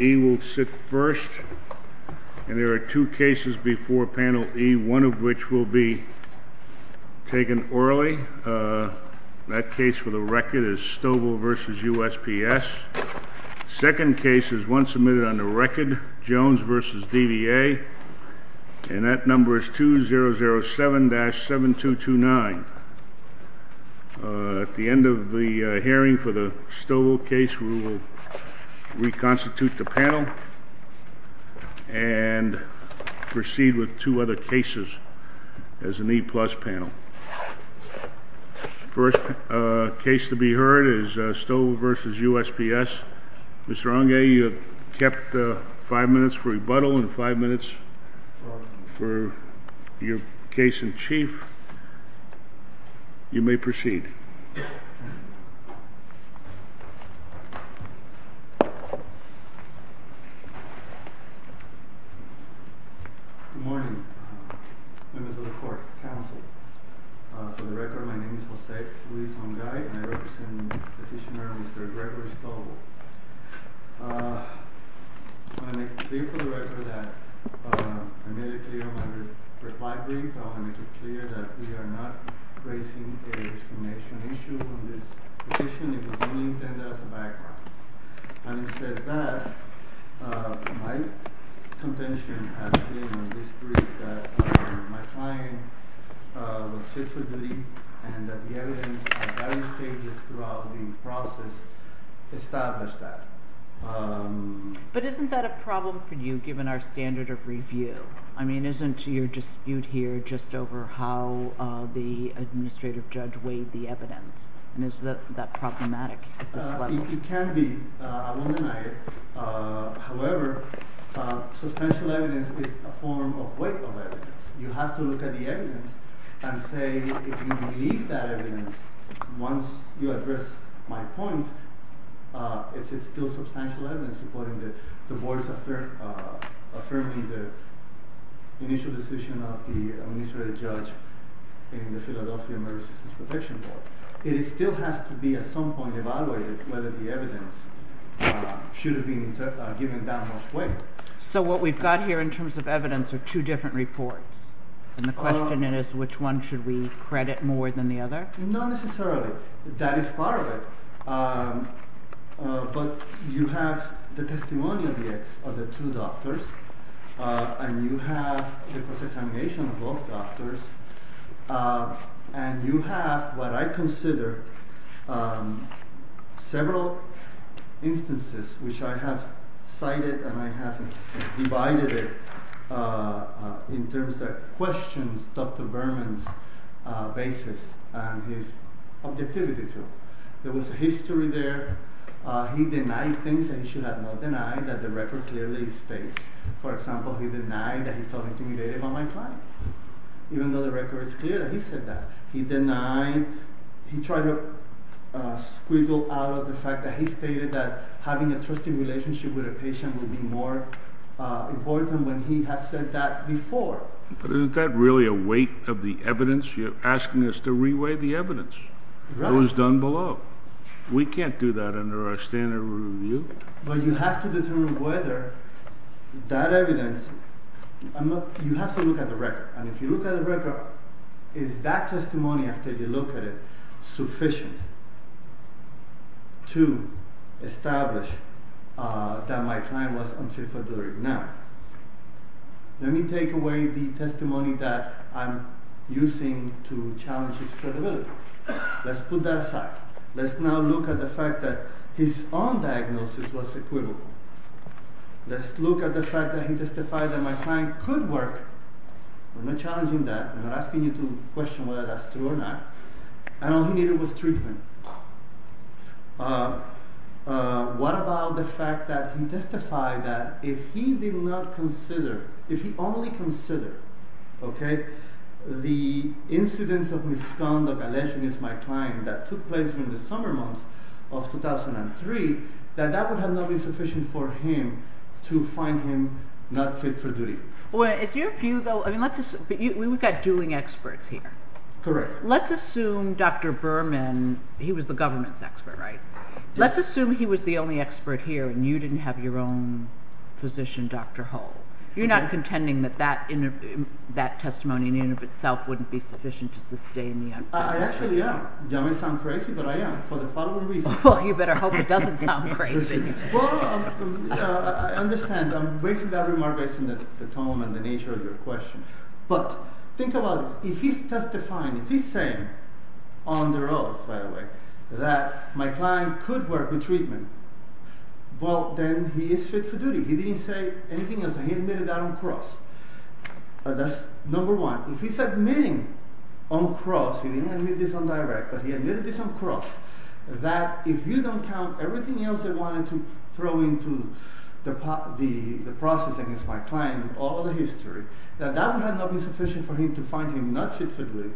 E will sit first, and there are two cases before panel E, one of which will be taken early, that case for the record is Stovall v. USPS, second case is one submitted on the record, Jones v. DVA, and that number is 2007-7229 At the end of the hearing for the Stovall case, we will reconstitute the panel and proceed with two other cases as an E-plus panel First case to be heard is Stovall v. USPS. Mr. Onge, you have 5 minutes for rebuttal and 5 minutes for your case in chief. You may proceed. Good morning, members of the court, counsel. For the record, my name is Jose Luis Onge, and I represent Petitioner Mr. Gregory Stovall. For the record, I made it clear in my reply brief that we are not raising a discrimination issue on this petition. It was only intended as a background. Having said that, my contention has been in this brief that my client was fit for duty and that the evidence at various stages throughout the process established that. But isn't that a problem for you given our standard of review? I mean, isn't your dispute here just over how the administrative judge weighed the evidence? And is that problematic at this level? It can be. However, substantial evidence is a form of weight of evidence. You have to look at the evidence and say, if you believe that evidence, once you address my point, it's still substantial evidence. So what we've got here in terms of evidence are two different reports. And the question is, which one should we credit more than the other? Not necessarily. That is part of it. But you have the testimony of the two doctors, and you have the cross-examination of both doctors, and you have what I consider several instances which I have cited and I have divided it in terms that questions Dr. Berman's basis. There was history there. He denied things that he should have not denied that the record clearly states. For example, he denied that he felt intimidated by my client, even though the record is clear that he said that. He denied, he tried to squiggle out of the fact that he stated that having a trusting relationship with a patient would be more important when he had said that before. But isn't that really a weight of the evidence? You're asking us to re-weigh the evidence. It was done below. We can't do that under our standard of review. But you have to determine whether that evidence, you have to look at the record. And if you look at the record, is that testimony, after you look at it, sufficient to establish that my client was unfit for delivery? Now, let me take away the testimony that I'm using to challenge his credibility. Let's put that aside. Let's now look at the fact that his own diagnosis was equivocal. Let's look at the fact that he testified that my client could work. I'm not challenging that. I'm not asking you to question whether that's true or not. And all he needed was treatment. What about the fact that he testified that if he did not consider, if he only considered, okay, the incidence of misconduct alleging it's my client that took place in the summer months of 2003, that that would have not been sufficient for him to find him not fit for duty. Well, is your view, though, I mean, we've got dueling experts here. Let's assume Dr. Berman, he was the government's expert, right? Let's assume he was the only expert here and you didn't have your own physician, Dr. Hull. You're not contending that that testimony in and of itself wouldn't be sufficient to sustain the unfitness? I actually am. I may sound crazy, but I am, for the following reasons. Well, you better hope it doesn't sound crazy. Well, I understand. I'm basing that remark based on the tone and the nature of your question. But think about this. If he's testifying, if he's saying, on their oath, by the way, that my client could work with treatment, well, then he is fit for duty. He didn't say anything else. He admitted that on cross. That's number one. If he's admitting on cross, he didn't admit this on direct, but he admitted this on cross, that if you don't count everything else they wanted to throw into the process against my client, all of the history, that that would have not been sufficient for him to find him not fit for duty.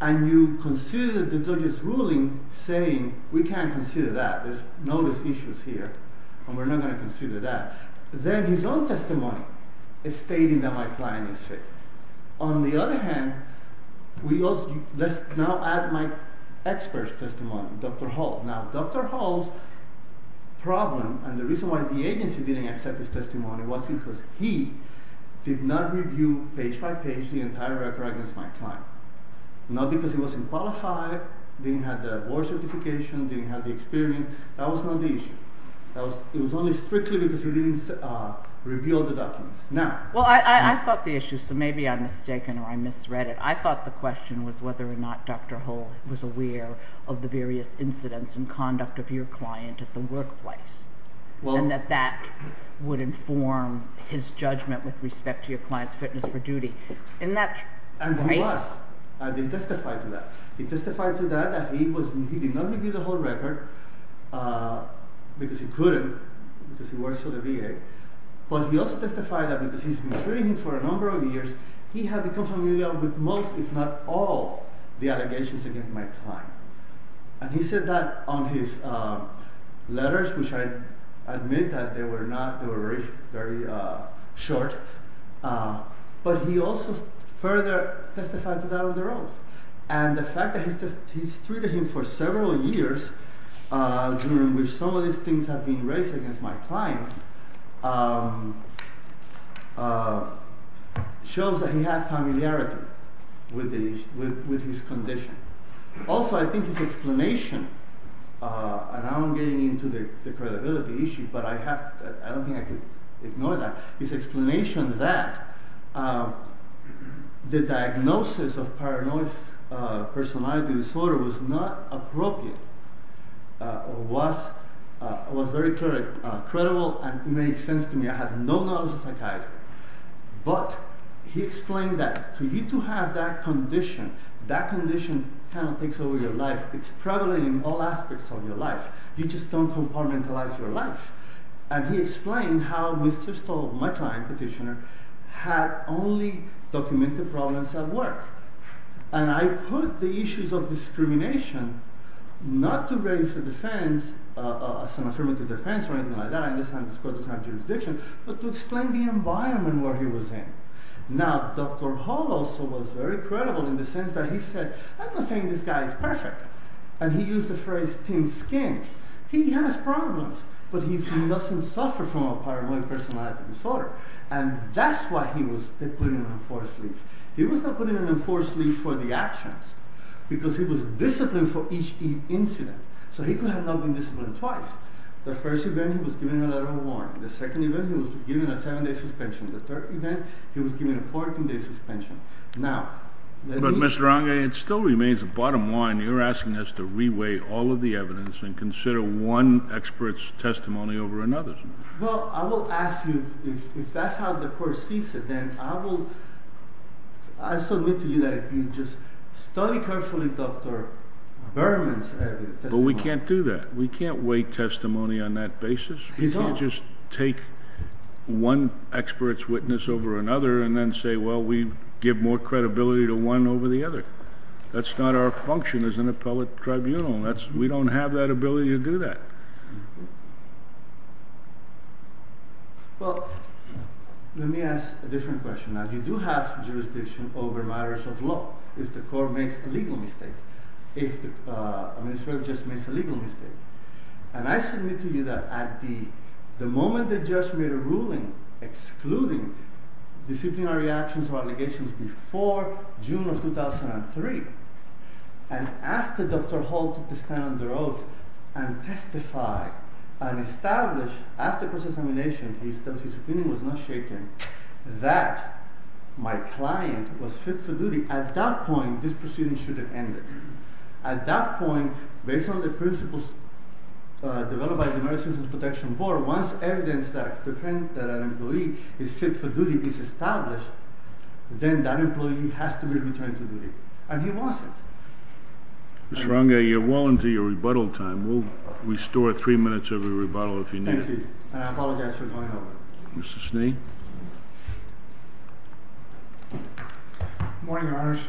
And you consider the judge's ruling saying, we can't consider that. There's no issues here, and we're not going to consider that. Then his own testimony is stating that my client is fit. On the other hand, let's now add my expert's testimony, Dr. Hall. Now, Dr. Hall's problem, and the reason why the agency didn't accept his testimony, was because he did not review page by page the entire record against my client. Not because he wasn't qualified, didn't have the award certification, didn't have the experience. That was not the issue. It was only strictly because he didn't review all the documents. Well, I thought the issue, so maybe I'm mistaken or I misread it. I thought the question was whether or not Dr. Hall was aware of the various incidents and conduct of your client at the workplace, and that that would inform his judgment with respect to your client's fitness for duty. And he was, and he testified to that. He testified to that, that he did not review the whole record because he couldn't, because he works for the VA. But he also testified that because he's been treating him for a number of years, he had become familiar with most, if not all, the allegations against my client. And he said that on his letters, which I admit that they were not, they were very short. But he also further testified to that on the rolls. And the fact that he's treated him for several years, during which some of these things have been raised against my client, shows that he had familiarity with his condition. Also, I think his explanation, and now I'm getting into the credibility issue, but I don't think I could ignore that, his explanation that the diagnosis of paranoid personality disorder was not appropriate, was very credible and made sense to me. I had no knowledge of psychiatry. But he explained that for you to have that condition, that condition kind of takes over your life. It's prevalent in all aspects of your life. You just don't compartmentalize your life. And he explained how Mr. Stoll, my client, petitioner, had only documented problems at work. And I put the issues of discrimination, not to raise some affirmative defense or anything like that, I understand this court doesn't have jurisdiction, but to explain the environment where he was in. Now, Dr. Hall also was very credible in the sense that he said, I'm not saying this guy is perfect. And he used the phrase, thin skin. He has problems, but he doesn't suffer from a paranoid personality disorder. And that's why he was put in an enforced leave. He was not put in an enforced leave for the actions, because he was disciplined for each incident. So he could have not been disciplined twice. The first event, he was given a letter of warrant. The second event, he was given a seven-day suspension. The third event, he was given a 14-day suspension. Now, let me... But, Mr. Rangel, it still remains the bottom line. You're asking us to re-weigh all of the evidence and consider one expert's testimony over another's. Well, I will ask you, if that's how the court sees it, then I will... I submit to you that if you just study carefully Dr. Berman's testimony... But we can't do that. We can't weigh testimony on that basis. He's wrong. We can't just take one expert's witness over another and then say, well, we give more credibility to one over the other. That's not our function as an appellate tribunal. We don't have that ability to do that. Well, let me ask a different question. Now, you do have jurisdiction over matters of law, if the court makes a legal mistake, if the administrative judge makes a legal mistake. And I submit to you that at the moment the judge made a ruling excluding disciplinary actions or allegations before June of 2003, and after Dr. Hall took the stand on their oath and testified and established, after cross-examination, his opinion was not shaken, that my client was fit for duty, at that point, this proceeding should have ended. At that point, based on the principles developed by the Merit Systems Protection Board, once evidence that an employee is fit for duty is established, then that employee has to be returned to duty, and he wants it. Mr. Ranga, you're well into your rebuttal time. We'll restore three minutes of your rebuttal if you need it. Thank you, and I apologize for going over. Mr. Sneed? Good morning, Your Honors.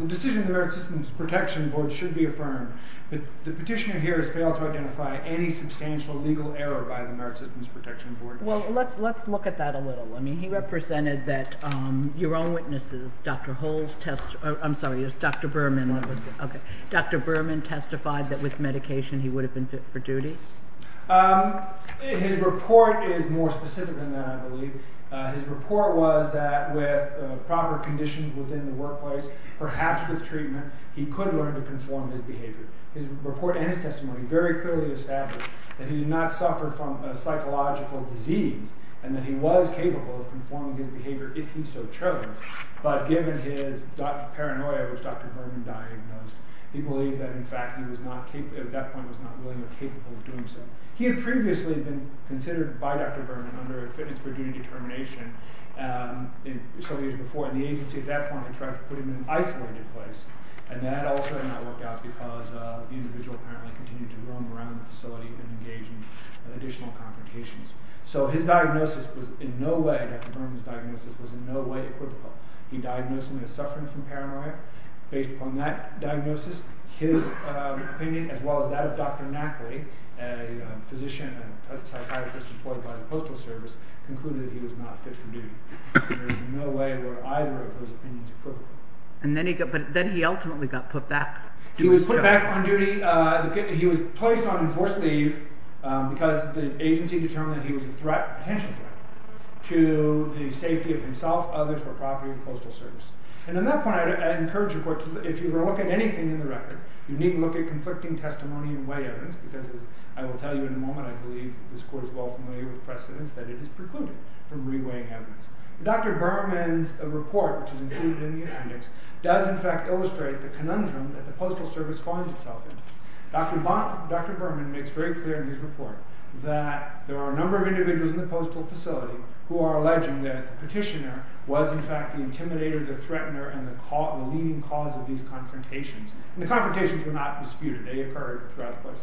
The decision of the Merit Systems Protection Board should be affirmed, but the petitioner here has failed to identify any substantial legal error by the Merit Systems Protection Board. Well, let's look at that a little. I mean, he represented that your own witnesses, Dr. Hull's test—I'm sorry, it was Dr. Berman. Okay. Dr. Berman testified that with medication he would have been fit for duty? His report is more specific than that, I believe. His report was that with proper conditions within the workplace, perhaps with treatment, he could learn to conform his behavior. His report and his testimony very clearly established that he did not suffer from a psychological disease, and that he was capable of conforming his behavior if he so chose. But given his paranoia, which Dr. Berman diagnosed, he believed that, in fact, he was not capable—at that point, was not willing or capable of doing so. He had previously been considered by Dr. Berman under a fitness for duty determination several years before, and the agency at that point tried to put him in an isolated place, and that also did not work out because the individual apparently continued to roam around the facility and engage in additional confrontations. So his diagnosis was in no way—Dr. Berman's diagnosis was in no way equivocal. He diagnosed him with suffering from paranoia. Based upon that diagnosis, his opinion, as well as that of Dr. Nackley, a physician and a psychiatrist employed by the Postal Service, concluded he was not fit for duty. There is no way where either of those opinions are equivocal. But then he ultimately got put back. He was put back on duty. He was placed on enforced leave because the agency determined that he was a threat, a potential threat, to the safety of himself, others, or property of the Postal Service. And at that point, I encourage the Court to, if you were to look at anything in the record, you needn't look at conflicting testimony and weigh evidence, because, as I will tell you in a moment, I believe this Court is well familiar with precedents that it is precluded from re-weighing evidence. Dr. Berman's report, which is included in the appendix, does in fact illustrate the conundrum that the Postal Service finds itself in. Dr. Berman makes very clear in his report that there are a number of individuals in the postal facility who are alleging that the petitioner was in fact the intimidator, the threatener, and the leading cause of these confrontations. And the confrontations were not disputed. They occurred throughout the place.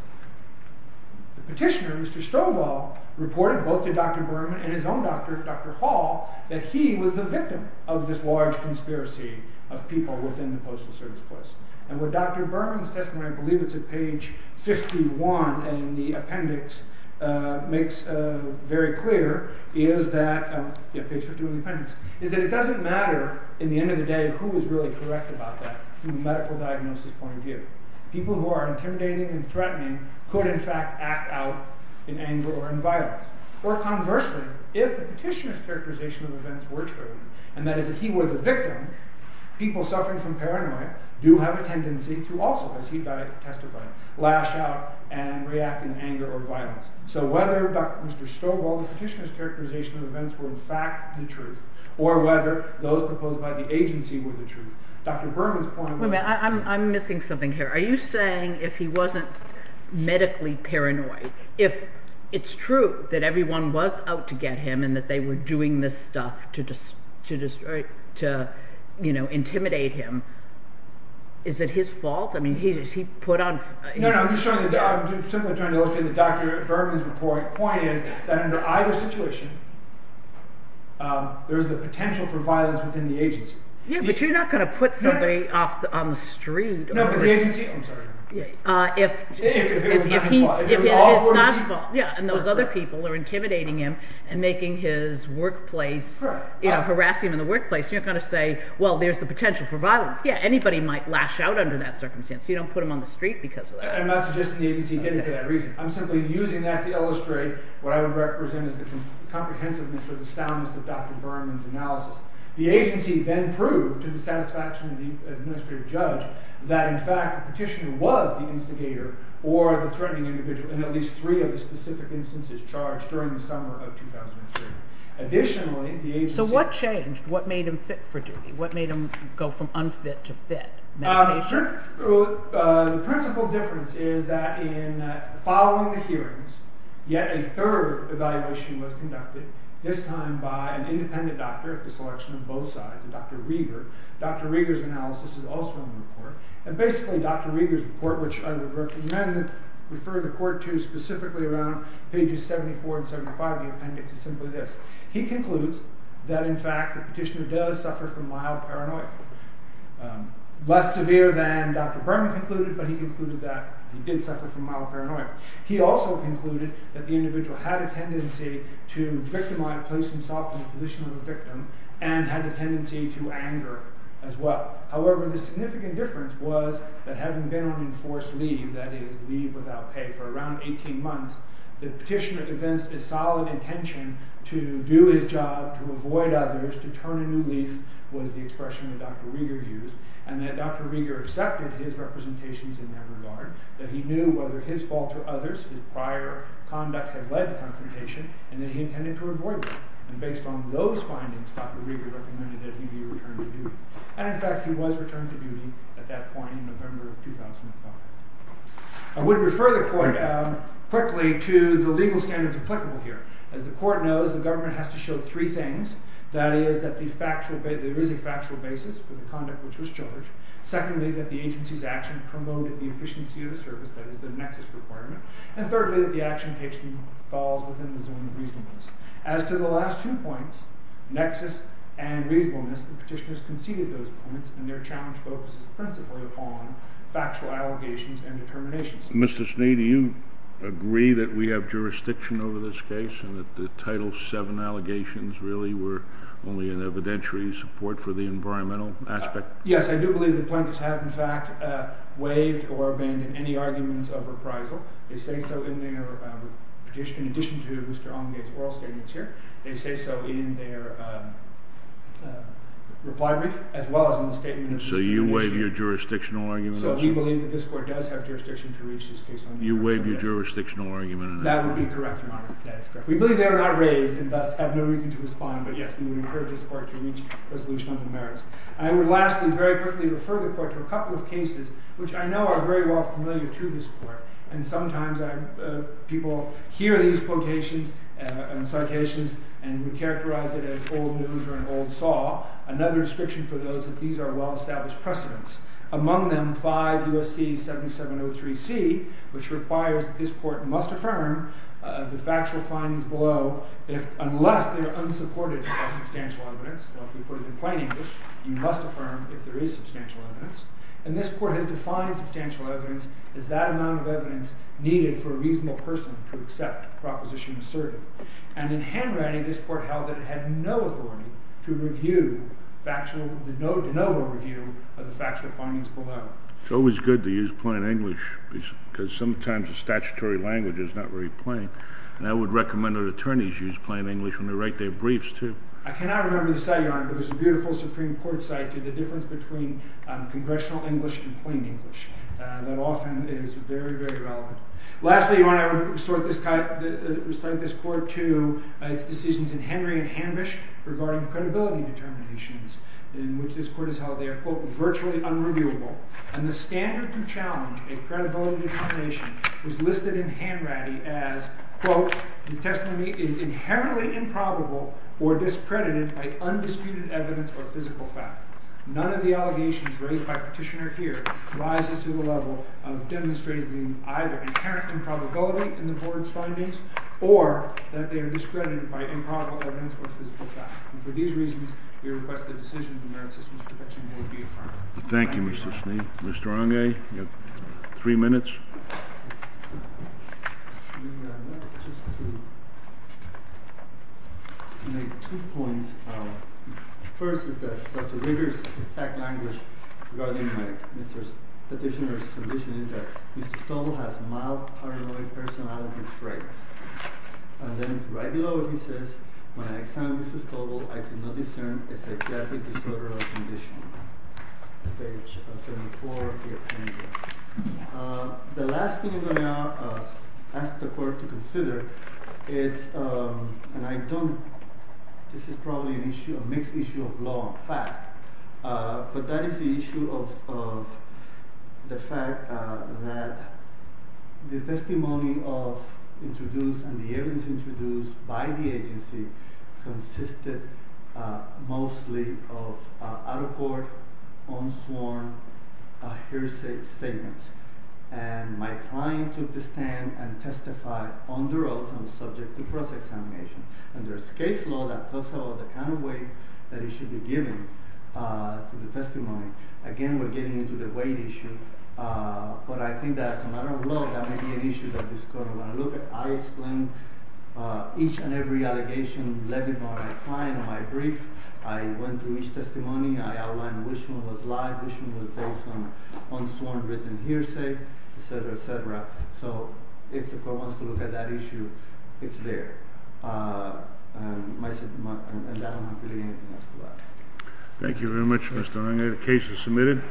The petitioner, Mr. Stovall, reported both to Dr. Berman and his own doctor, Dr. Hall, that he was the victim of this large conspiracy of people within the Postal Service place. And what Dr. Berman's testimony, I believe it's at page 51 in the appendix, makes very clear is that it doesn't matter in the end of the day who is really correct about that from a medical diagnosis point of view. People who are intimidating and threatening could in fact act out in anger or in violence. Or conversely, if the petitioner's characterization of events were true, and that is that he was the victim, people suffering from paranoia do have a tendency to also, as he testified, lash out and react in anger or violence. So whether, Dr. Stovall, the petitioner's characterization of events were in fact the truth, or whether those proposed by the agency were the truth, Dr. Berman's point was… Wait a minute. I'm missing something here. Are you saying if he wasn't medically paranoid, if it's true that everyone was out to get him and that they were doing this stuff to, you know, intimidate him, is it his fault? I mean, has he put on… No, no. I'm simply trying to illustrate that Dr. Berman's point is that under either situation, there's the potential for violence within the agency. Yeah, but you're not going to put somebody on the street… No, but the agency… I'm sorry. If it was not his fault. Yeah, and those other people are intimidating him and making his workplace, you know, harassing him in the workplace. You're not going to say, well, there's the potential for violence. Yeah, anybody might lash out under that circumstance. You don't put him on the street because of that. I'm not suggesting the agency did it for that reason. I'm simply using that to illustrate what I would represent as the comprehensiveness or the soundness of Dr. Berman's analysis. The agency then proved to the satisfaction of the administrative judge that in fact the petitioner was the instigator or the threatening individual in at least three of the specific instances charged during the summer of 2003. Additionally, the agency… So what changed? What made him fit for duty? What made him go from unfit to fit? The principal difference is that in following the hearings, yet a third evaluation was conducted, this time by an independent doctor at the selection of both sides, a Dr. Rieger. Dr. Rieger's analysis is also in the report. And basically Dr. Rieger's report, which I would recommend referring the court to specifically around pages 74 and 75 of the appendix, is simply this. He concludes that in fact the petitioner does suffer from mild paranoia. Less severe than Dr. Berman concluded, but he concluded that he did suffer from mild paranoia. He also concluded that the individual had a tendency to victimize, place himself in the position of a victim, and had a tendency to anger as well. However, the significant difference was that having been on enforced leave, that is leave without pay for around 18 months, the petitioner evinced a solid intention to do his job, to avoid others, to turn a new leaf was the expression that Dr. Rieger used, and that Dr. Rieger accepted his representations in that regard, that he knew whether his fault or others, his prior conduct had led to confrontation, and that he intended to avoid that. And based on those findings, Dr. Rieger recommended that he be returned to duty. And in fact he was returned to duty at that point in November of 2005. I would refer the court quickly to the legal standards applicable here. As the court knows, the government has to show three things, that is that there is a factual basis for the conduct which was charged, secondly that the agency's action promoted the efficiency of the service, that is the nexus requirement, and thirdly that the action falls within the zone of reasonableness. As to the last two points, nexus and reasonableness, the petitioners conceded those points, and their challenge focuses principally upon factual allegations and determinations. Mr. Snead, do you agree that we have jurisdiction over this case, and that the Title VII allegations really were only an evidentiary support for the environmental aspect? Yes, I do believe the plaintiffs have in fact waived or abandoned any arguments of reprisal. They say so in their petition, in addition to Mr. Allengate's oral statements here. They say so in their reply brief, as well as in the statement of Mr. Allengate. So you waive your jurisdictional argument? So we believe that this court does have jurisdiction to reach this case under Title VII. You waive your jurisdictional argument? That would be correct, Your Honor. That is correct. We believe they were not raised, and thus have no reason to respond, but yes, we would encourage this court to reach resolution on the merits. I would lastly very quickly refer the court to a couple of cases which I know are very well familiar to this court, and sometimes people hear these quotations and citations and would characterize it as old news or an old saw, another description for those that these are well-established precedents. Among them, 5 U.S.C. 7703C, which requires that this court must affirm the factual findings below unless they are unsupported by substantial evidence. Well, if you put it in plain English, you must affirm if there is substantial evidence. And this court has defined substantial evidence as that amount of evidence needed for a reasonable person to accept the proposition asserted. And in Hanratty, this court held that it had no authority to review factual, to de novo review of the factual findings below. It's always good to use plain English, because sometimes the statutory language is not very plain, and I would recommend that attorneys use plain English when they write their briefs, too. I cannot remember the site, Your Honor, but there's a beautiful Supreme Court site to the difference between congressional English and plain English that often is very, very relevant. Lastly, Your Honor, I would recite this court to its decisions in Henry and Hanbush regarding credibility determinations, in which this court has held they are, quote, virtually unreviewable. And the standard to challenge a credibility determination was listed in Hanratty as, quote, the testimony is inherently improbable or discredited by undisputed evidence or physical fact. None of the allegations raised by Petitioner here rises to the level of demonstrating either inherent improbability in the board's findings, or that they are discredited by improbable evidence or physical fact. And for these reasons, we request the decision of the Merit Systems Protection Board be affirmed. Thank you, Mr. Schnee. Mr. Hange, you have three minutes. Mr. Schnee, I'd like just to make two points. First is that Dr. Rigger's exact language regarding Mr. Petitioner's condition is that Mr. Stoble has mild paranoid personality traits. And then right below it he says, when I examined Mr. Stoble, I could not discern a psychiatric disorder or condition. Page 74 of your handout. The last thing I'm going to ask the court to consider is, and I don't, this is probably a mixed issue of law and fact, but that is the issue of the fact that the testimony introduced and the evidence introduced by the agency consisted mostly of out-of-court, unsworn, hearsay statements. And my client took the stand and testified under oath and was subject to cross-examination. And there's case law that talks about the kind of weight that it should be given to the testimony. Again, we're getting into the weight issue. But I think that as a matter of law, that may be an issue that this court will want to look at. I explained each and every allegation levied by my client on my brief. I went through each testimony. I outlined which one was live, which one was based on unsworn written hearsay, et cetera, et cetera. So if the court wants to look at that issue, it's there. And I don't have really anything else to add. Thank you very much, Mr. Ng. The case is submitted.